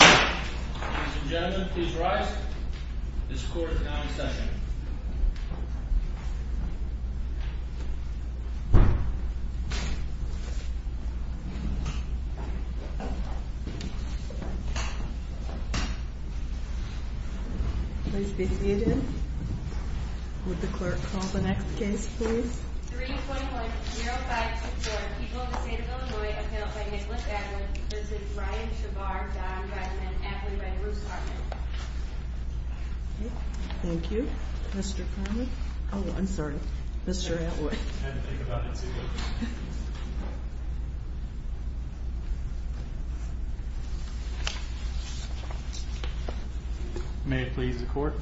Ladies and gentlemen, please rise. This court is now in session. Please be seated. Would the clerk call the next case, please? 3.10524, People of the State of Illinois, appellate by Nicholas Atwood, v. Brian Shabar, Don Redmond, appellate by Bruce Cartman. Thank you. Mr. Cartman. Oh, I'm sorry. Mr. Atwood. I had to think about it too. May it please the court.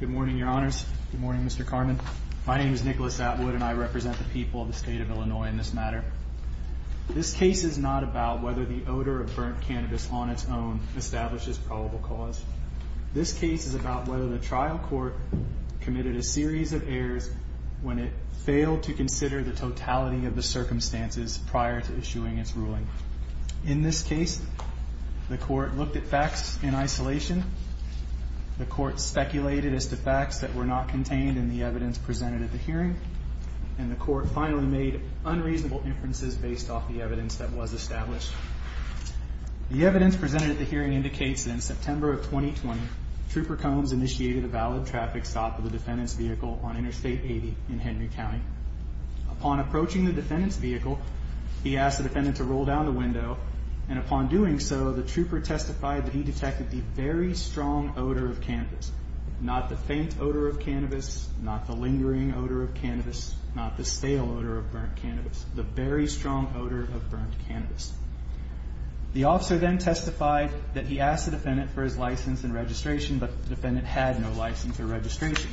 Good morning, Your Honors. Good morning, Mr. Cartman. My name is Nicholas Atwood, and I represent the people of the state of Illinois in this matter. This case is not about whether the odor of burnt cannabis on its own establishes probable cause. This case is about whether the trial court committed a series of errors when it failed to consider the totality of the circumstances prior to issuing its ruling. In this case, the court looked at facts in isolation. The court speculated as to facts that were not contained in the evidence presented at the hearing. And the court finally made unreasonable inferences based off the evidence that was established. The evidence presented at the hearing indicates that in September of 2020, Trooper Combs initiated a valid traffic stop of the defendant's vehicle on Interstate 80 in Henry County. Upon approaching the defendant's vehicle, he asked the defendant to roll down the window. And upon doing so, the trooper testified that he detected the very strong odor of cannabis. Not the faint odor of cannabis, not the lingering odor of cannabis, not the stale odor of burnt cannabis. The very strong odor of burnt cannabis. The officer then testified that he asked the defendant for his license and registration, but the defendant had no license or registration.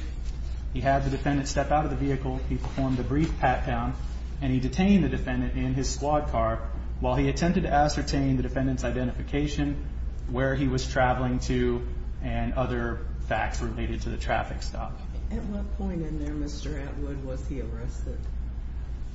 He had the defendant step out of the vehicle, he performed a brief pat-down, and he detained the defendant in his squad car while he attempted to ascertain the defendant's identification, where he was traveling to, and other facts related to the traffic stop. At what point in there, Mr. Atwood, was he arrested?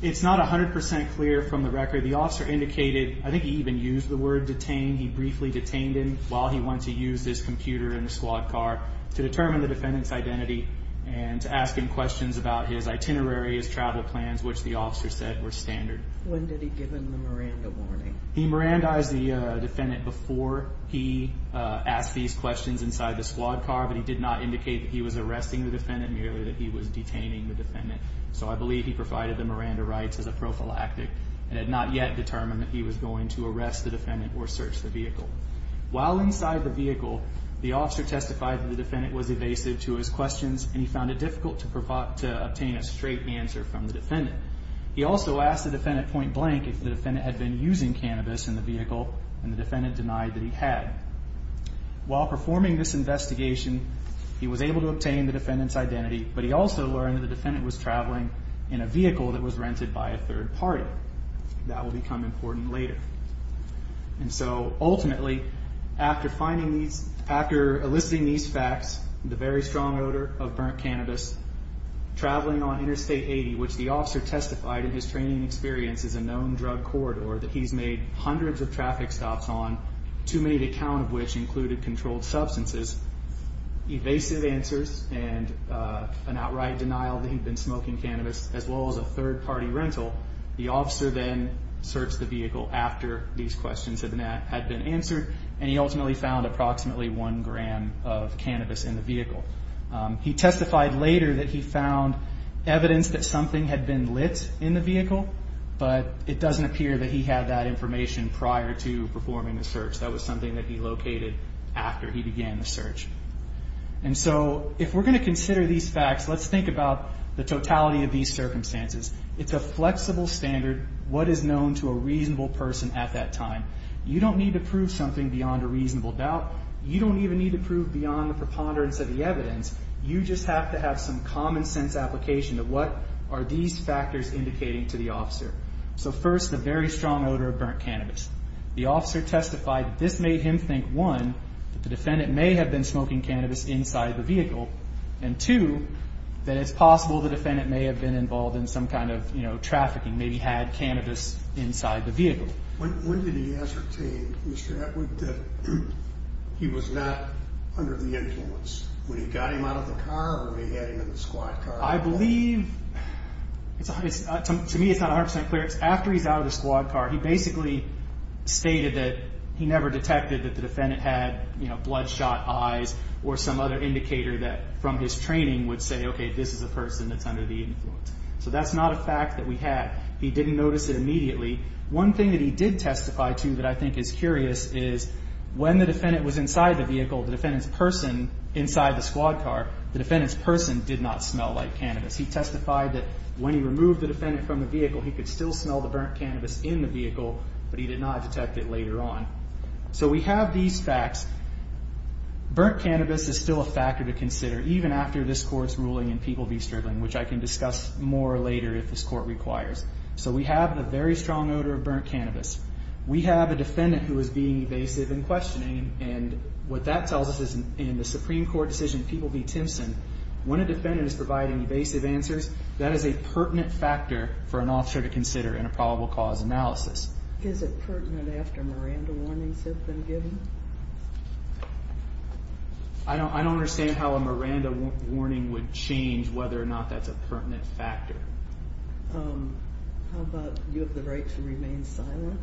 It's not 100% clear from the record. The officer indicated, I think he even used the word detained, he briefly detained him while he went to use his computer in his squad car to determine the defendant's identity and to ask him questions about his itinerary, his travel plans, which the officer said were standard. When did he give him the Miranda warning? He Mirandized the defendant before he asked these questions inside the squad car, but he did not indicate that he was arresting the defendant, merely that he was detaining the defendant, so I believe he provided the Miranda rights as a prophylactic and had not yet determined that he was going to arrest the defendant or search the vehicle. While inside the vehicle, the officer testified that the defendant was evasive to his questions and he found it difficult to obtain a straight answer from the defendant. He also asked the defendant point blank if the defendant had been using cannabis in the vehicle, and the defendant denied that he had. While performing this investigation, he was able to obtain the defendant's identity, but he also learned that the defendant was traveling in a vehicle that was rented by a third party. That will become important later. And so, ultimately, after eliciting these facts, the very strong odor of burnt cannabis, traveling on Interstate 80, which the officer testified in his training experience is a known drug corridor that he's made hundreds of traffic stops on, too many to count of which included controlled substances, evasive answers and an outright denial that he'd been smoking cannabis, as well as a third party rental, the officer then searched the vehicle after these questions had been answered, and he ultimately found approximately one gram of cannabis in the vehicle. He testified later that he found evidence that something had been lit in the vehicle, but it doesn't appear that he had that information prior to performing the search. That was something that he located after he began the search. And so, if we're going to consider these facts, let's think about the totality of these circumstances. It's a flexible standard what is known to a reasonable person at that time. You don't need to prove something beyond a reasonable doubt. You don't even need to prove beyond the preponderance of the evidence. You just have to have some common sense application of what are these factors indicating to the officer. So, first, the very strong odor of burnt cannabis. The officer testified this made him think, one, that the defendant may have been smoking cannabis inside the vehicle, and, two, that it's possible the defendant may have been involved in some kind of trafficking, maybe had cannabis inside the vehicle. When did he ascertain, Mr. Atwood, that he was not under the influence? When he got him out of the car or when he had him in the squad car? I believe, to me, it's not 100% clear. After he's out of the squad car, he basically stated that he never detected that the defendant had, you know, bloodshot eyes or some other indicator that from his training would say, okay, this is a person that's under the influence. So, that's not a fact that we had. He didn't notice it immediately. One thing that he did testify to that I think is curious is when the defendant was inside the vehicle, the defendant's person inside the squad car, the defendant's person did not smell like cannabis. He testified that when he removed the defendant from the vehicle, he could still smell the burnt cannabis in the vehicle, but he did not detect it later on. So, we have these facts. Burnt cannabis is still a factor to consider, even after this Court's ruling in People v. Strickland, which I can discuss more later if this Court requires. So, we have a very strong odor of burnt cannabis. We have a defendant who is being evasive and questioning, and what that tells us is in the Supreme Court decision in People v. Timpson, when a defendant is providing evasive answers, that is a pertinent factor for an officer to consider in a probable cause analysis. Is it pertinent after Miranda warnings have been given? I don't understand how a Miranda warning would change whether or not that's a pertinent factor. How about you have the right to remain silent?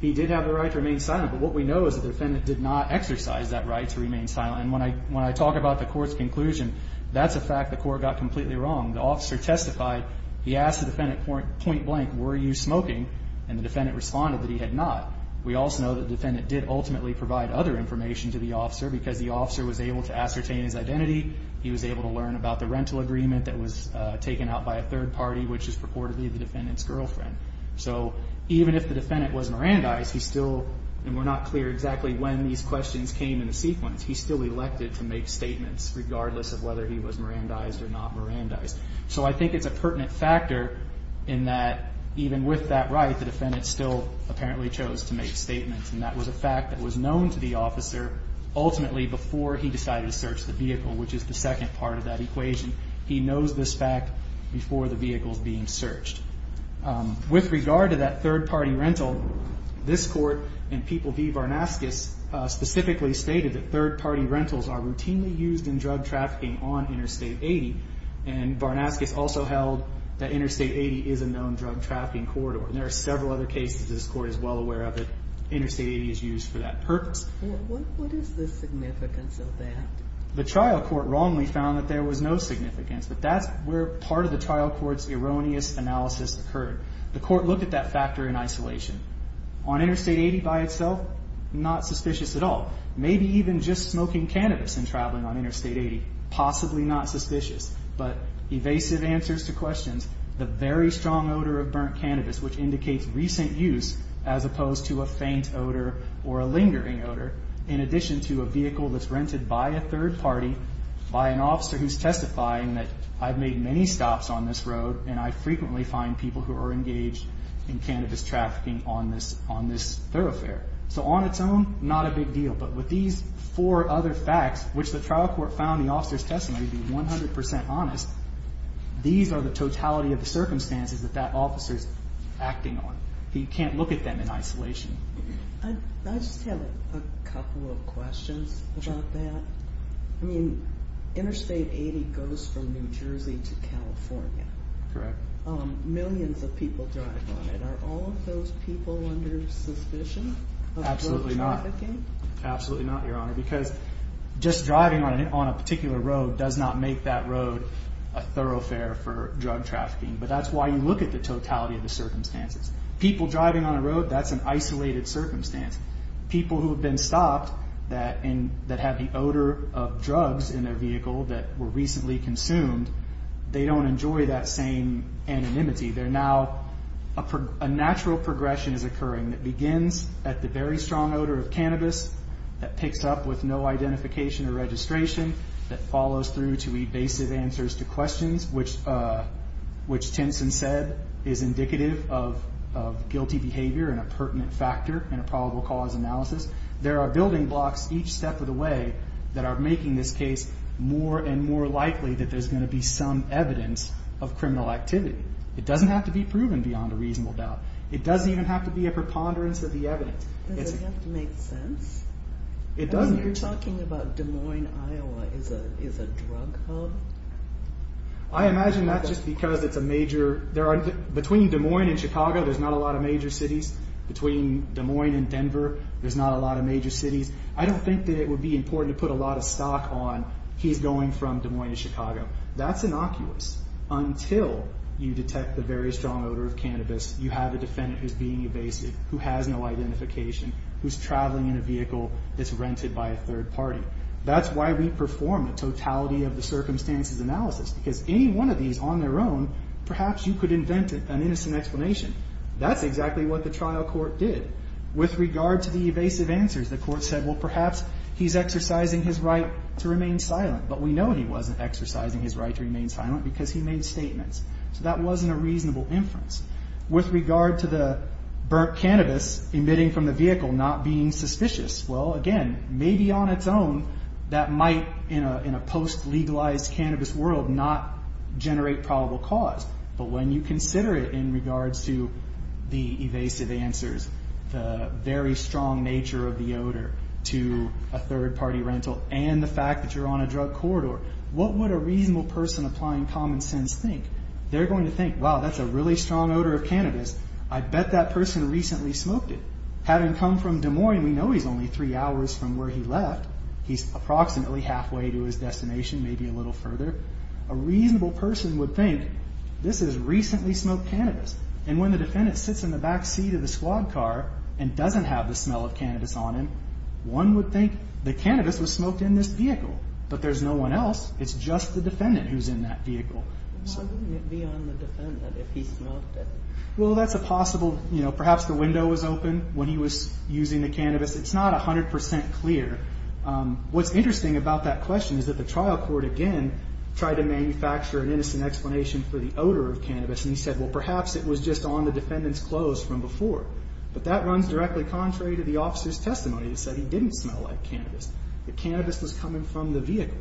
He did have the right to remain silent, but what we know is the defendant did not exercise that right to remain silent. And when I talk about the Court's conclusion, that's a fact the Court got completely wrong. The officer testified. He asked the defendant point blank, were you smoking? And the defendant responded that he had not. We also know the defendant did ultimately provide other information to the officer because the officer was able to ascertain his identity. He was able to learn about the rental agreement that was taken out by a third party, which is purportedly the defendant's girlfriend. So even if the defendant was Mirandized, he still, and we're not clear exactly when these questions came in the sequence, he still elected to make statements regardless of whether he was Mirandized or not Mirandized. So I think it's a pertinent factor in that even with that right, the defendant still apparently chose to make statements, and that was a fact that was known to the officer ultimately before he decided to search the vehicle, which is the second part of that equation. He knows this fact before the vehicle's being searched. With regard to that third party rental, this Court and people v. Varnaskis specifically stated that third party rentals are routinely used in drug trafficking on Interstate 80, and Varnaskis also held that Interstate 80 is a known drug trafficking corridor. There are several other cases this Court is well aware of that Interstate 80 is used for that purpose. What is the significance of that? The trial court wrongly found that there was no significance, but that's where part of the trial court's erroneous analysis occurred. The court looked at that factor in isolation. On Interstate 80 by itself, not suspicious at all. Maybe even just smoking cannabis and traveling on Interstate 80, possibly not suspicious, but evasive answers to questions, the very strong odor of burnt cannabis, which indicates recent use as opposed to a faint odor or a lingering odor, in addition to a vehicle that's rented by a third party, by an officer who's testifying that I've made many stops on this road and I frequently find people who are engaged in cannabis trafficking on this thoroughfare. So on its own, not a big deal, but with these four other facts, which the trial court found in the officer's testimony to be 100 percent honest, these are the totality of the circumstances that that officer's acting on. You can't look at them in isolation. I just have a couple of questions about that. I mean, Interstate 80 goes from New Jersey to California. Correct. Millions of people drive on it. Are all of those people under suspicion of drug trafficking? Absolutely not. Absolutely not, Your Honor, because just driving on a particular road does not make that road a thoroughfare for drug trafficking. But that's why you look at the totality of the circumstances. People driving on a road, that's an isolated circumstance. People who have been stopped that have the odor of drugs in their vehicle that were recently consumed, they don't enjoy that same anonymity. They're now a natural progression is occurring that begins at the very strong odor of cannabis that picks up with no identification or registration, that follows through to evasive answers to questions, which Tinson said is indicative of guilty behavior and a pertinent factor in a probable cause analysis. There are building blocks each step of the way that are making this case more and more likely that there's going to be some evidence of criminal activity. It doesn't have to be proven beyond a reasonable doubt. It doesn't even have to be a preponderance of the evidence. Does it have to make sense? It doesn't. You're talking about Des Moines, Iowa is a drug hub? I imagine that's just because it's a major... Between Des Moines and Chicago, there's not a lot of major cities. Between Des Moines and Denver, there's not a lot of major cities. I don't think that it would be important to put a lot of stock on he's going from Des Moines to Chicago. That's innocuous until you detect the very strong odor of cannabis, you have a defendant who's being evasive, who has no identification, who's traveling in a vehicle that's rented by a third party. That's why we perform the totality of the circumstances analysis because any one of these on their own, perhaps you could invent an innocent explanation. That's exactly what the trial court did. With regard to the evasive answers, the court said, well, perhaps he's exercising his right to remain silent, but we know he wasn't exercising his right to remain silent because he made statements. So that wasn't a reasonable inference. With regard to the burnt cannabis emitting from the vehicle not being suspicious, well, again, maybe on its own that might, in a post-legalized cannabis world, not generate probable cause. But when you consider it in regards to the evasive answers, the very strong nature of the odor to a third party rental and the fact that you're on a drug corridor, what would a reasonable person applying common sense think? They're going to think, wow, that's a really strong odor of cannabis. I bet that person recently smoked it. Having come from Des Moines, we know he's only three hours from where he left. He's approximately halfway to his destination, maybe a little further. A reasonable person would think this is recently smoked cannabis. And when the defendant sits in the back seat of the squad car and doesn't have the smell of cannabis on him, one would think the cannabis was smoked in this vehicle, but there's no one else. It's just the defendant who's in that vehicle. Why wouldn't it be on the defendant if he smoked it? Well, that's a possible, you know, perhaps the window was open when he was using the cannabis. It's not 100% clear. What's interesting about that question is that the trial court, again, tried to manufacture an innocent explanation for the odor of cannabis, and he said, well, perhaps it was just on the defendant's clothes from before. But that runs directly contrary to the officer's testimony. He said he didn't smell like cannabis. The cannabis was coming from the vehicle.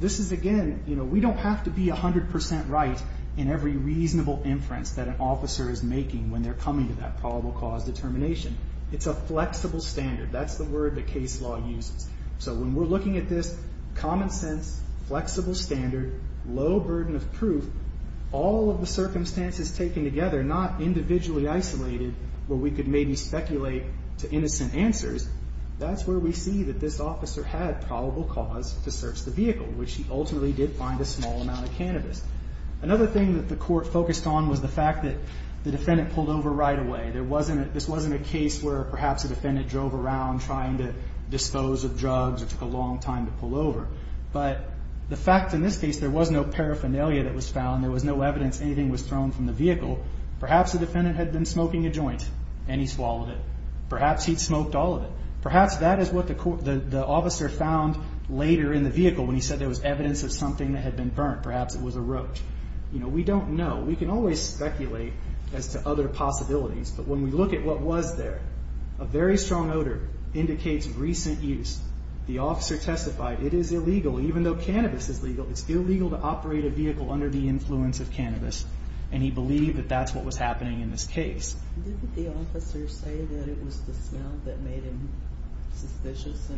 This is, again, you know, we don't have to be 100% right in every reasonable inference that an officer is making when they're coming to that probable cause determination. It's a flexible standard. That's the word that case law uses. So when we're looking at this common sense, flexible standard, low burden of proof, all of the circumstances taken together, not individually isolated where we could maybe speculate to innocent answers, that's where we see that this officer had probable cause to search the vehicle, which he ultimately did find a small amount of cannabis. Another thing that the court focused on was the fact that the defendant pulled over right away. This wasn't a case where perhaps the defendant drove around trying to dispose of drugs or took a long time to pull over. But the fact in this case there was no paraphernalia that was found, there was no evidence anything was thrown from the vehicle, perhaps the defendant had been smoking a joint and he swallowed it. Perhaps that is what the officer found later in the vehicle when he said there was evidence of something that had been burnt. Perhaps it was a roach. We don't know. We can always speculate as to other possibilities, but when we look at what was there, a very strong odor indicates recent use. The officer testified it is illegal, even though cannabis is legal, it's illegal to operate a vehicle under the influence of cannabis, and he believed that that's what was happening in this case. Did the officer say that it was the smell that made him suspicious?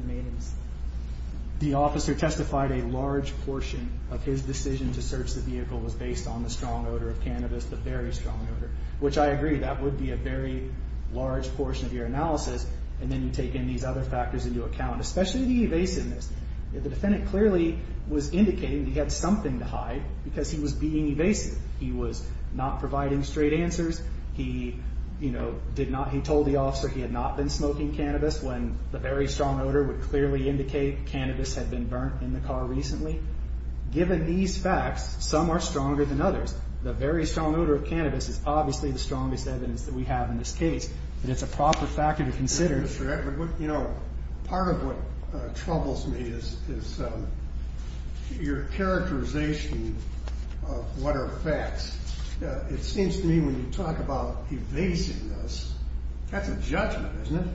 The officer testified a large portion of his decision to search the vehicle was based on the strong odor of cannabis, the very strong odor, which I agree that would be a very large portion of your analysis, and then you take in these other factors into account, especially the evasiveness. The defendant clearly was indicating he had something to hide because he was being evasive. He was not providing straight answers. He told the officer he had not been smoking cannabis when the very strong odor would clearly indicate cannabis had been burnt in the car recently. Given these facts, some are stronger than others. The very strong odor of cannabis is obviously the strongest evidence that we have in this case, and it's a proper factor to consider. Mr. Edmund, part of what troubles me is your characterization of what are facts. It seems to me when you talk about evasiveness, that's a judgment, isn't it?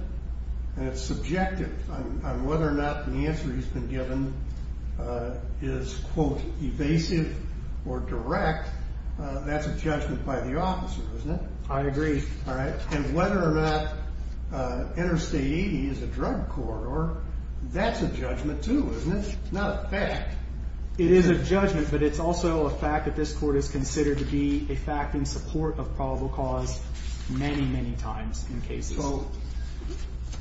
And it's subjective. Whether or not the answer he's been given is, quote, evasive or direct, that's a judgment by the officer, isn't it? I agree. All right. And whether or not interstate 80 is a drug corridor, that's a judgment too, isn't it? It's not a fact. It is a judgment, but it's also a fact that this court has considered to be a fact in support of probable cause many, many times in cases. So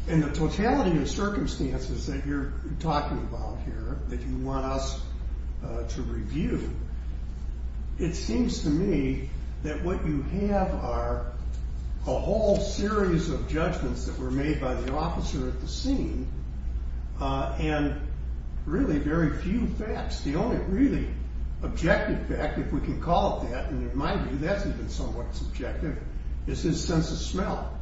in the totality of circumstances that you're talking about here that you want us to review, it seems to me that what you have are a whole series of judgments that were made by the officer at the scene and really very few facts. The only really objective fact, if we can call it that, and in my view that's even somewhat subjective, is his sense of smell.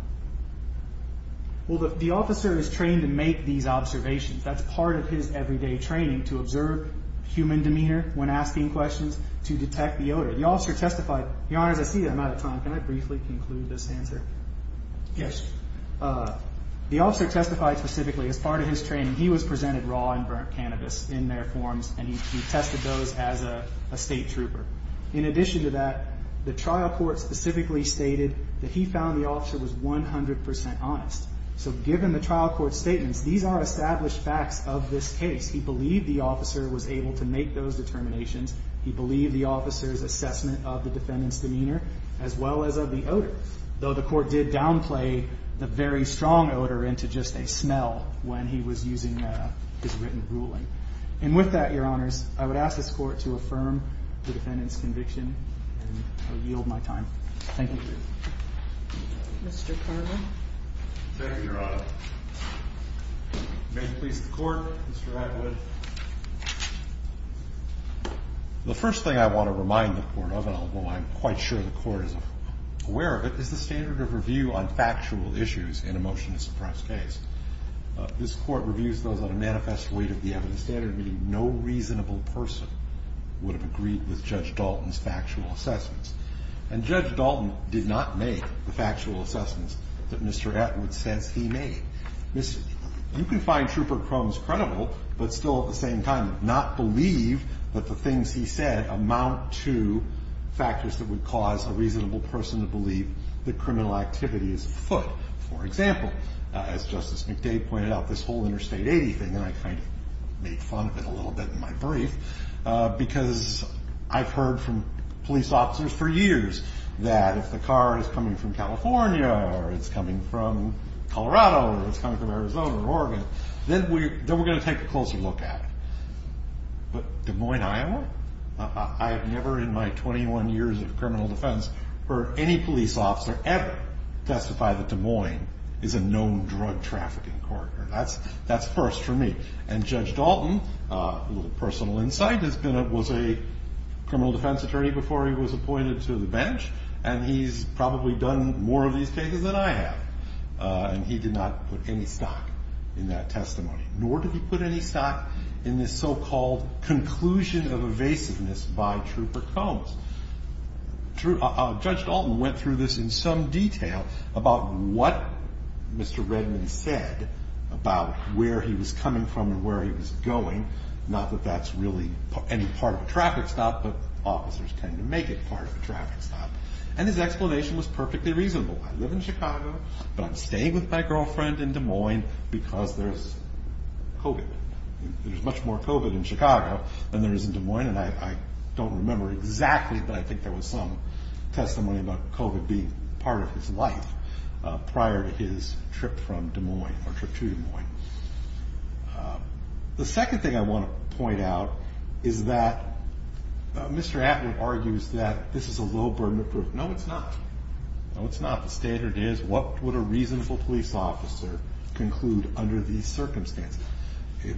Well, the officer is trained to make these observations. That's part of his everyday training, to observe human demeanor when asking questions, to detect the odor. The officer testified. Your Honors, I see that I'm out of time. Can I briefly conclude this answer? Yes. The officer testified specifically as part of his training. He was presented raw and burnt cannabis in their forms, and he tested those as a state trooper. In addition to that, the trial court specifically stated that he found the officer was 100% honest. So given the trial court's statements, these are established facts of this case. He believed the officer was able to make those determinations. He believed the officer's assessment of the defendant's demeanor, as well as of the odor, though the court did downplay the very strong odor into just a smell when he was using his written ruling. And with that, Your Honors, I would ask this Court to affirm the defendant's conviction, and I yield my time. Thank you. Mr. Carvin. Thank you, Your Honor. May it please the Court, Mr. Atwood. The first thing I want to remind the Court of, and although I'm quite sure the Court is aware of it, is the standard of review on factual issues in a motion to suppress case. This Court reviews those on a manifest weight of the evidence standard, meaning no reasonable person would have agreed with Judge Dalton's factual assessments. And Judge Dalton did not make the factual assessments that Mr. Atwood says he made. You can find trooper crumbs credible, but still at the same time not believe that the things he said amount to factors that would cause a reasonable person to believe that criminal activity is afoot. For example, as Justice McDade pointed out, this whole interstate 80 thing, and I kind of made fun of it a little bit in my brief, because I've heard from police officers for years that if the car is coming from California or it's coming from Colorado or it's coming from Arizona or Oregon, then we're going to take a closer look at it. But Des Moines, Iowa? I have never in my 21 years of criminal defense heard any police officer ever testify that Des Moines is a known drug trafficking corridor. That's first for me. And Judge Dalton, a little personal insight, was a criminal defense attorney before he was appointed to the bench, and he's probably done more of these cases than I have, and he did not put any stock in that testimony, nor did he put any stock in this so-called conclusion of evasiveness by trooper Combs. Judge Dalton went through this in some detail about what Mr. Redman said about where he was coming from and where he was going, not that that's really any part of a traffic stop, but officers tend to make it part of a traffic stop. And his explanation was perfectly reasonable. I live in Chicago, but I'm staying with my girlfriend in Des Moines because there's COVID. There's much more COVID in Chicago than there is in Des Moines, and I don't remember exactly, but I think there was some testimony about COVID being part of his life prior to his trip from Des Moines or trip to Des Moines. The second thing I want to point out is that Mr. Atwood argues that this is a low burden of proof. No, it's not. No, it's not. The standard is what would a reasonable police officer conclude under these circumstances,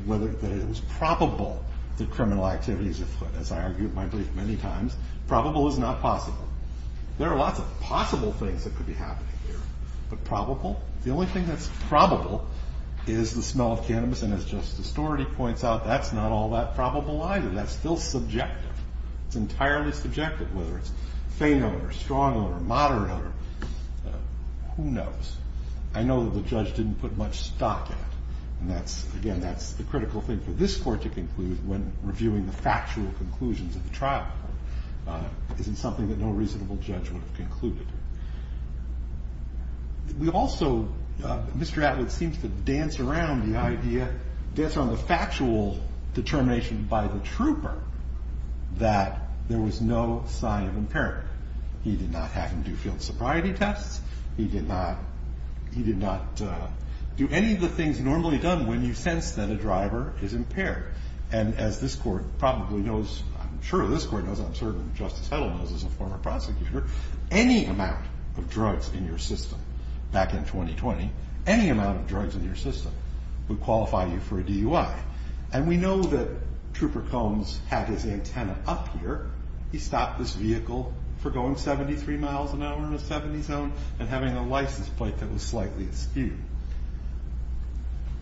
whether it was probable that criminal activities were put, as I argued in my brief many times, probable is not possible. There are lots of possible things that could be happening here, but probable? The only thing that's probable is the smell of cannabis, and as Justice Astority points out, that's not all that probable either. That's still subjective. It's entirely subjective, whether it's faint odor, strong odor, moderate odor. Who knows? I know that the judge didn't put much stock in it, and, again, that's the critical thing for this court to conclude when reviewing the factual conclusions of the trial court. It isn't something that no reasonable judge would have concluded. We also, Mr. Atwood seems to dance around the idea, dance around the factual determination by the trooper that there was no sign of impairment. He did not have him do field sobriety tests. He did not do any of the things normally done when you sense that a driver is impaired, and as this court probably knows, I'm sure this court knows, I'm certain Justice Hedl knows as a former prosecutor, any amount of drugs in your system back in 2020, any amount of drugs in your system would qualify you for a DUI, and we know that Trooper Combs had his antenna up here. He stopped this vehicle for going 73 miles an hour in a 70 zone and having a license plate that was slightly askew.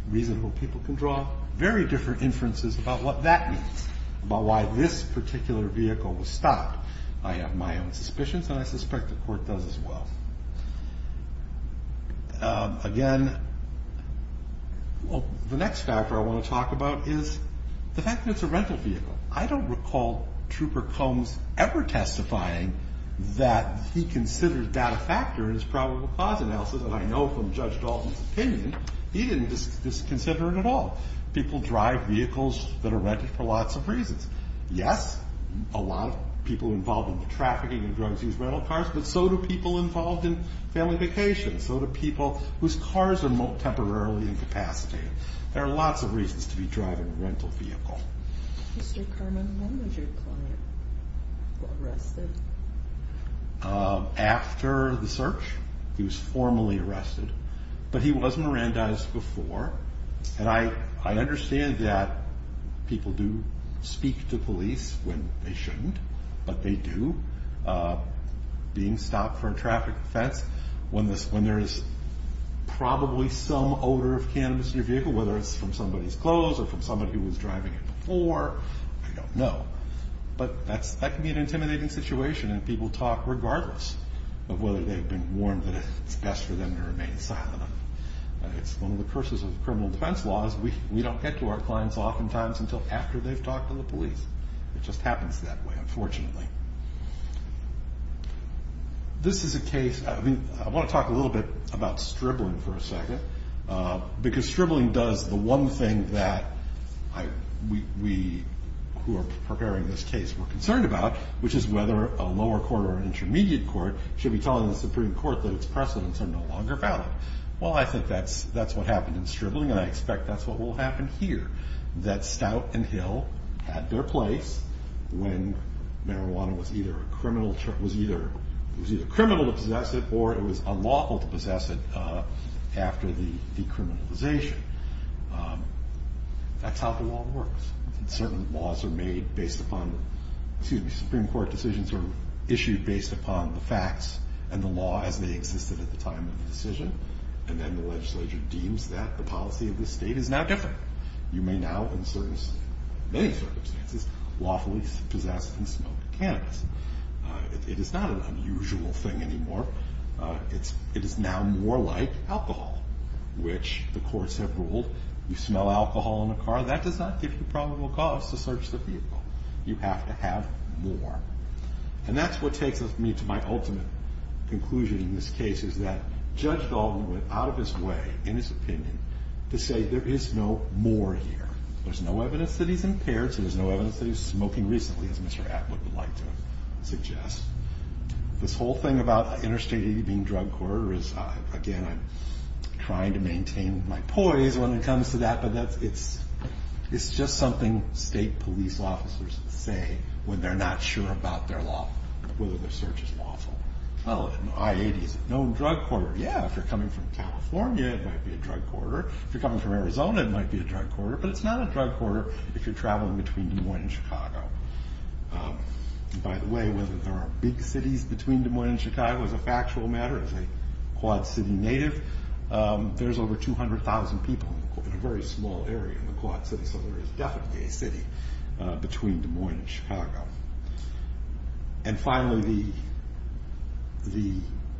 Reasonable people can draw very different inferences about what that means, about why this particular vehicle was stopped. I have my own suspicions, and I suspect the court does as well. Again, the next factor I want to talk about is the fact that it's a rental vehicle. I don't recall Trooper Combs ever testifying that he considered that a factor in his probable cause analysis, and I know from Judge Dalton's opinion he didn't disconsider it at all. People drive vehicles that are rented for lots of reasons. Yes, a lot of people involved in trafficking and drugs use rental cars, but so do people involved in family vacations. So do people whose cars are temporarily incapacitated. There are lots of reasons to be driving a rental vehicle. Mr. Kerman, when was your client arrested? After the search, he was formally arrested, but he was Mirandized before, and I understand that people do speak to police when they shouldn't, but they do. Being stopped for a traffic offense, when there is probably some odor of cannabis in your vehicle, whether it's from somebody's clothes or from somebody who was driving it before, I don't know. But that can be an intimidating situation, and people talk regardless of whether they've been warned that it's best for them to remain silent. It's one of the curses of criminal defense law is we don't get to our clients oftentimes until after they've talked to the police. It just happens that way, unfortunately. This is a case—I want to talk a little bit about stribbling for a second, because stribbling does the one thing that we who are preparing this case were concerned about, which is whether a lower court or an intermediate court should be telling the Supreme Court that its precedents are no longer valid. Well, I think that's what happened in stribbling, and I expect that's what will happen here, that Stout and Hill had their place when marijuana was either criminal to possess it or it was unlawful to possess it after the decriminalization. That's how the law works. Certain laws are made based upon—excuse me, Supreme Court decisions are issued based upon the facts and the law as they existed at the time of the decision, and then the legislature deems that the policy of the state is now different. You may now, in many circumstances, lawfully possess and smoke cannabis. It is not an unusual thing anymore. It is now more like alcohol, which the courts have ruled, you smell alcohol in a car, that does not give you probable cause to search the vehicle. You have to have more. And that's what takes me to my ultimate conclusion in this case, is that Judge Baldwin went out of his way, in his opinion, to say there is no more here. There's no evidence that he's impaired, so there's no evidence that he's smoking recently, as Mr. Atwood would like to suggest. This whole thing about Interstate 80 being a drug corridor is, again, I'm trying to maintain my poise when it comes to that, but it's just something state police officers say when they're not sure about their law, whether their search is lawful. Oh, I-80 is a known drug corridor. Yeah, if you're coming from California, it might be a drug corridor. If you're coming from Arizona, it might be a drug corridor. But it's not a drug corridor if you're traveling between Des Moines and Chicago. By the way, whether there are big cities between Des Moines and Chicago is a factual matter. As a Quad City native, there's over 200,000 people in a very small area in the Quad City, so there is definitely a city between Des Moines and Chicago. And finally, the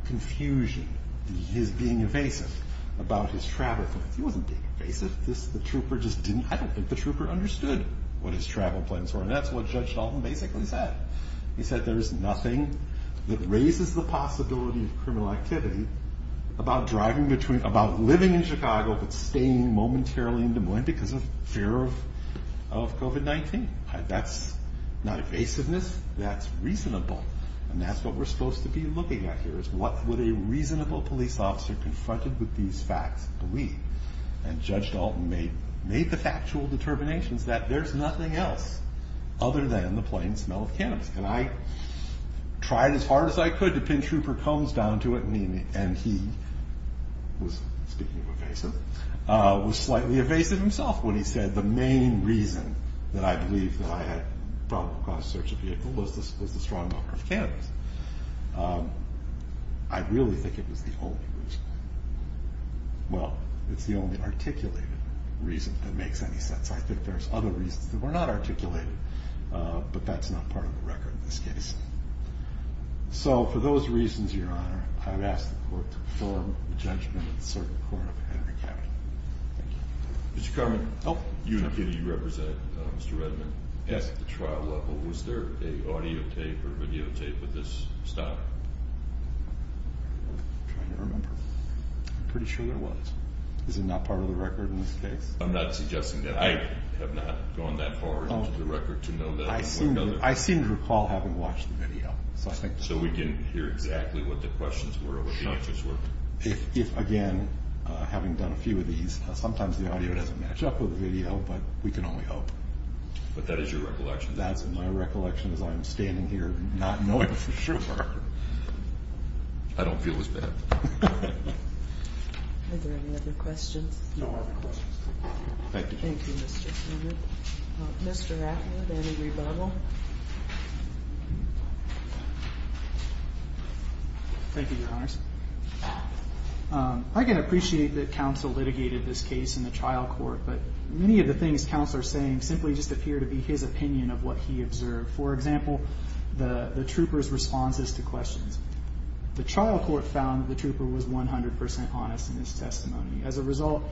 confusion, his being evasive about his travel plans. He wasn't being evasive. The trooper just didn't-I don't think the trooper understood what his travel plans were, and that's what Judge Dalton basically said. He said there's nothing that raises the possibility of criminal activity about driving between- about living in Chicago but staying momentarily in Des Moines because of fear of COVID-19. That's not evasiveness. That's reasonable, and that's what we're supposed to be looking at here is what would a reasonable police officer confronted with these facts believe? And Judge Dalton made the factual determinations that there's nothing else other than the plain smell of cannabis. And I tried as hard as I could to pinch trooper Combs down to it, and he was-speaking of evasive-was slightly evasive himself when he said the main reason that I believe that I had a probable cause of search of vehicle was the strong odor of cannabis. I really think it was the only reason. Well, it's the only articulated reason that makes any sense. I think there's other reasons that were not articulated, but that's not part of the record in this case. So for those reasons, Your Honor, I would ask the Court to perform the judgment at the Circuit Court of Henry County. Mr. Carman, you and a few of you represent Mr. Redman. At the trial level, was there an audio tape or video tape of this stop? I'm trying to remember. I'm pretty sure there was. Is it not part of the record in this case? I'm not suggesting that. I have not gone that far into the record to know that. I seem to recall having watched the video. So we can hear exactly what the questions were, what the answers were. If, again, having done a few of these, sometimes the audio doesn't match up with the video, but we can only hope. But that is your recollection? That's my recollection as I'm standing here not knowing for sure. I don't feel as bad. Are there any other questions? No other questions. Thank you. Thank you, Mr. Carman. Mr. Atwood, any rebuttal? Thank you, Your Honors. I can appreciate that counsel litigated this case in the trial court, but many of the things counsel are saying simply just appear to be his opinion of what he observed. For example, the trooper's responses to questions. The trial court found the trooper was 100% honest in his testimony. As a result,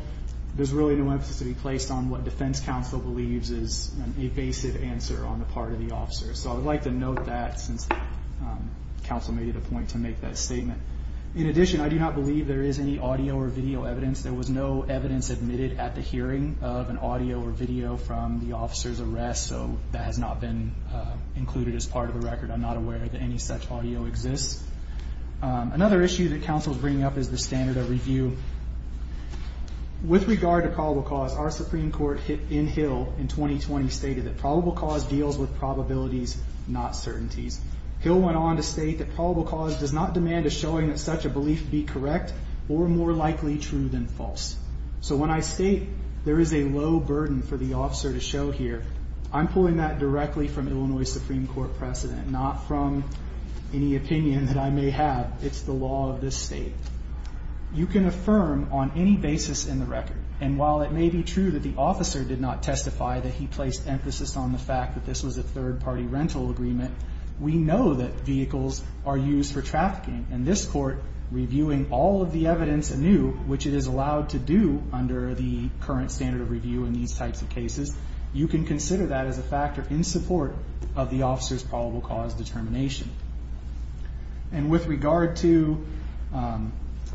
there's really no emphasis to be placed on what defense counsel believes is an evasive answer on the part of the officer. So I would like to note that since counsel made it a point to make that statement. In addition, I do not believe there is any audio or video evidence. There was no evidence admitted at the hearing of an audio or video from the officer's arrest, so that has not been included as part of the record. I'm not aware that any such audio exists. Another issue that counsel is bringing up is the standard of review. With regard to probable cause, our Supreme Court in Hill in 2020 stated that probable cause deals with probabilities, not certainties. Hill went on to state that probable cause does not demand a showing that such a belief be correct or more likely true than false. So when I state there is a low burden for the officer to show here, I'm pulling that directly from Illinois Supreme Court precedent, not from any opinion that I may have. It's the law of this state. You can affirm on any basis in the record, and while it may be true that the officer did not testify, that he placed emphasis on the fact that this was a third-party rental agreement, we know that vehicles are used for trafficking. In this court, reviewing all of the evidence anew, which it is allowed to do under the current standard of review in these types of cases, you can consider that as a factor in support of the officer's probable cause determination. And with regard to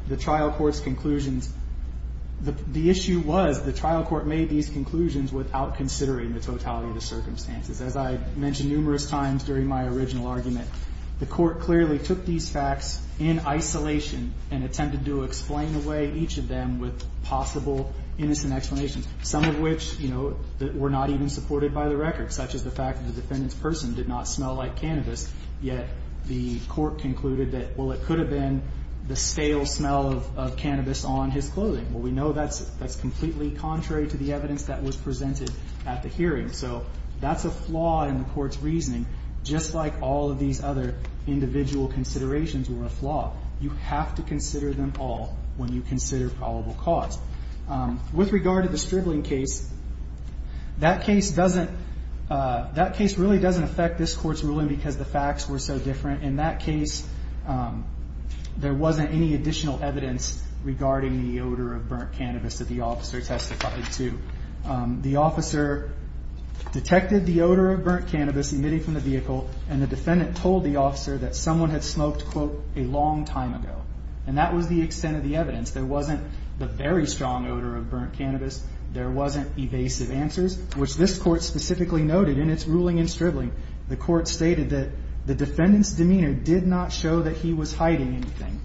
the trial court's conclusions, the issue was the trial court made these conclusions without considering the totality of the circumstances. As I mentioned numerous times during my original argument, the court clearly took these facts in isolation and attempted to explain away each of them with possible innocent explanations, some of which were not even supported by the record, such as the fact that the defendant's person did not smell like cannabis, yet the court concluded that, well, it could have been the stale smell of cannabis on his clothing. Well, we know that's completely contrary to the evidence that was presented at the hearing. So that's a flaw in the court's reasoning, just like all of these other individual considerations were a flaw. You have to consider them all when you consider probable cause. With regard to the striggling case, that case doesn't, that case really doesn't affect this court's ruling because the facts were so different. In that case, there wasn't any additional evidence regarding the odor of burnt cannabis that the officer testified to. The officer detected the odor of burnt cannabis emitting from the vehicle, and the defendant told the officer that someone had smoked, quote, a long time ago. And that was the extent of the evidence. There wasn't the very strong odor of burnt cannabis. There wasn't evasive answers, which this court specifically noted in its ruling and striggling. The court stated that the defendant's demeanor did not show that he was hiding anything.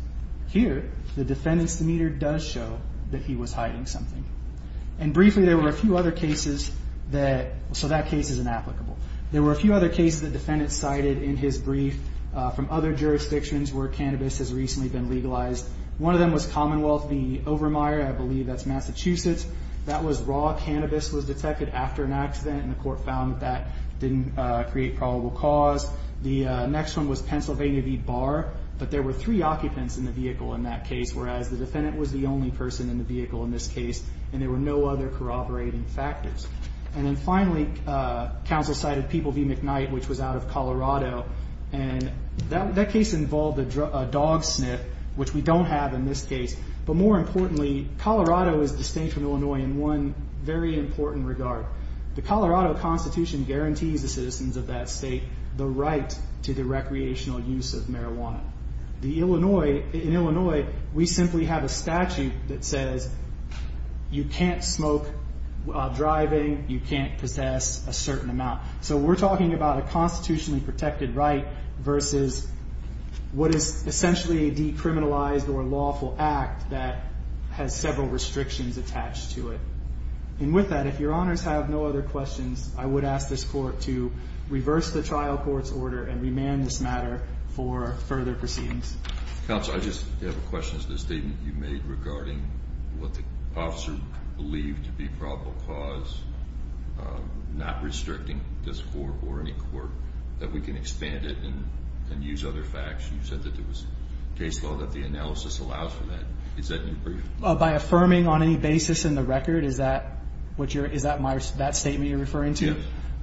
Here, the defendant's demeanor does show that he was hiding something. And briefly, there were a few other cases that, so that case is inapplicable. There were a few other cases that defendants cited in his brief from other jurisdictions where cannabis has recently been legalized. One of them was Commonwealth v. Overmyer. I believe that's Massachusetts. That was raw cannabis was detected after an accident, and the court found that that didn't create probable cause. The next one was Pennsylvania v. Barr. But there were three occupants in the vehicle in that case, whereas the defendant was the only person in the vehicle in this case, and there were no other corroborating factors. And then finally, counsel cited People v. McKnight, which was out of Colorado. And that case involved a dog sniff, which we don't have in this case. But more importantly, Colorado is distinct from Illinois in one very important regard. The Colorado Constitution guarantees the citizens of that state the right to the recreational use of marijuana. In Illinois, we simply have a statute that says you can't smoke while driving, you can't possess a certain amount. So we're talking about a constitutionally protected right versus what is a fact that has several restrictions attached to it. And with that, if your honors have no other questions, I would ask this court to reverse the trial court's order and remand this matter for further proceedings. Counsel, I just have a question as to the statement you made regarding what the officer believed to be probable cause, not restricting this court or any court, that we can expand it and use other facts. You said that there was case law that the analysis allows for that. Is that new for you? By affirming on any basis in the record, is that what you're, is that my, that statement you're referring to? Yeah.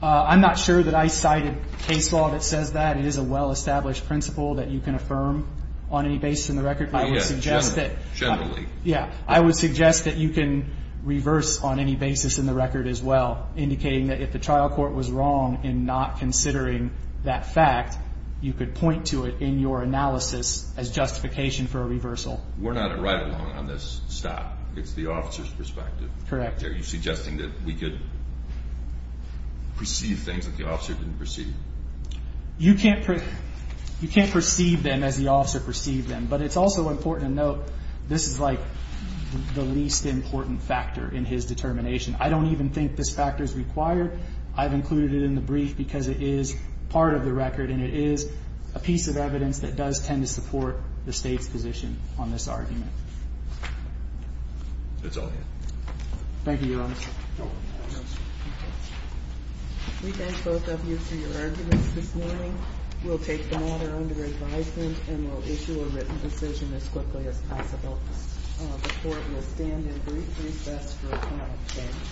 I'm not sure that I cited case law that says that. It is a well-established principle that you can affirm on any basis in the record. Generally. Yeah. I would suggest that you can reverse on any basis in the record as well, indicating that if the trial court was wrong in not considering that fact, you could point to it in your analysis as justification for a reversal. We're not at right along on this stop. It's the officer's perspective. Correct. Are you suggesting that we could perceive things that the officer didn't perceive? You can't, you can't perceive them as the officer perceived them, but it's also important to note. This is like the least important factor in his determination. I don't even think this factor is required. I've included it in the brief because it is part of the record. And it is a piece of evidence that does tend to support the state's position on this argument. That's all. Thank you. Your honor. We thank both of you for your arguments this morning. We'll take the matter under advisement and we'll issue a written decision as quickly as possible. The court will stand in brief recess for a moment.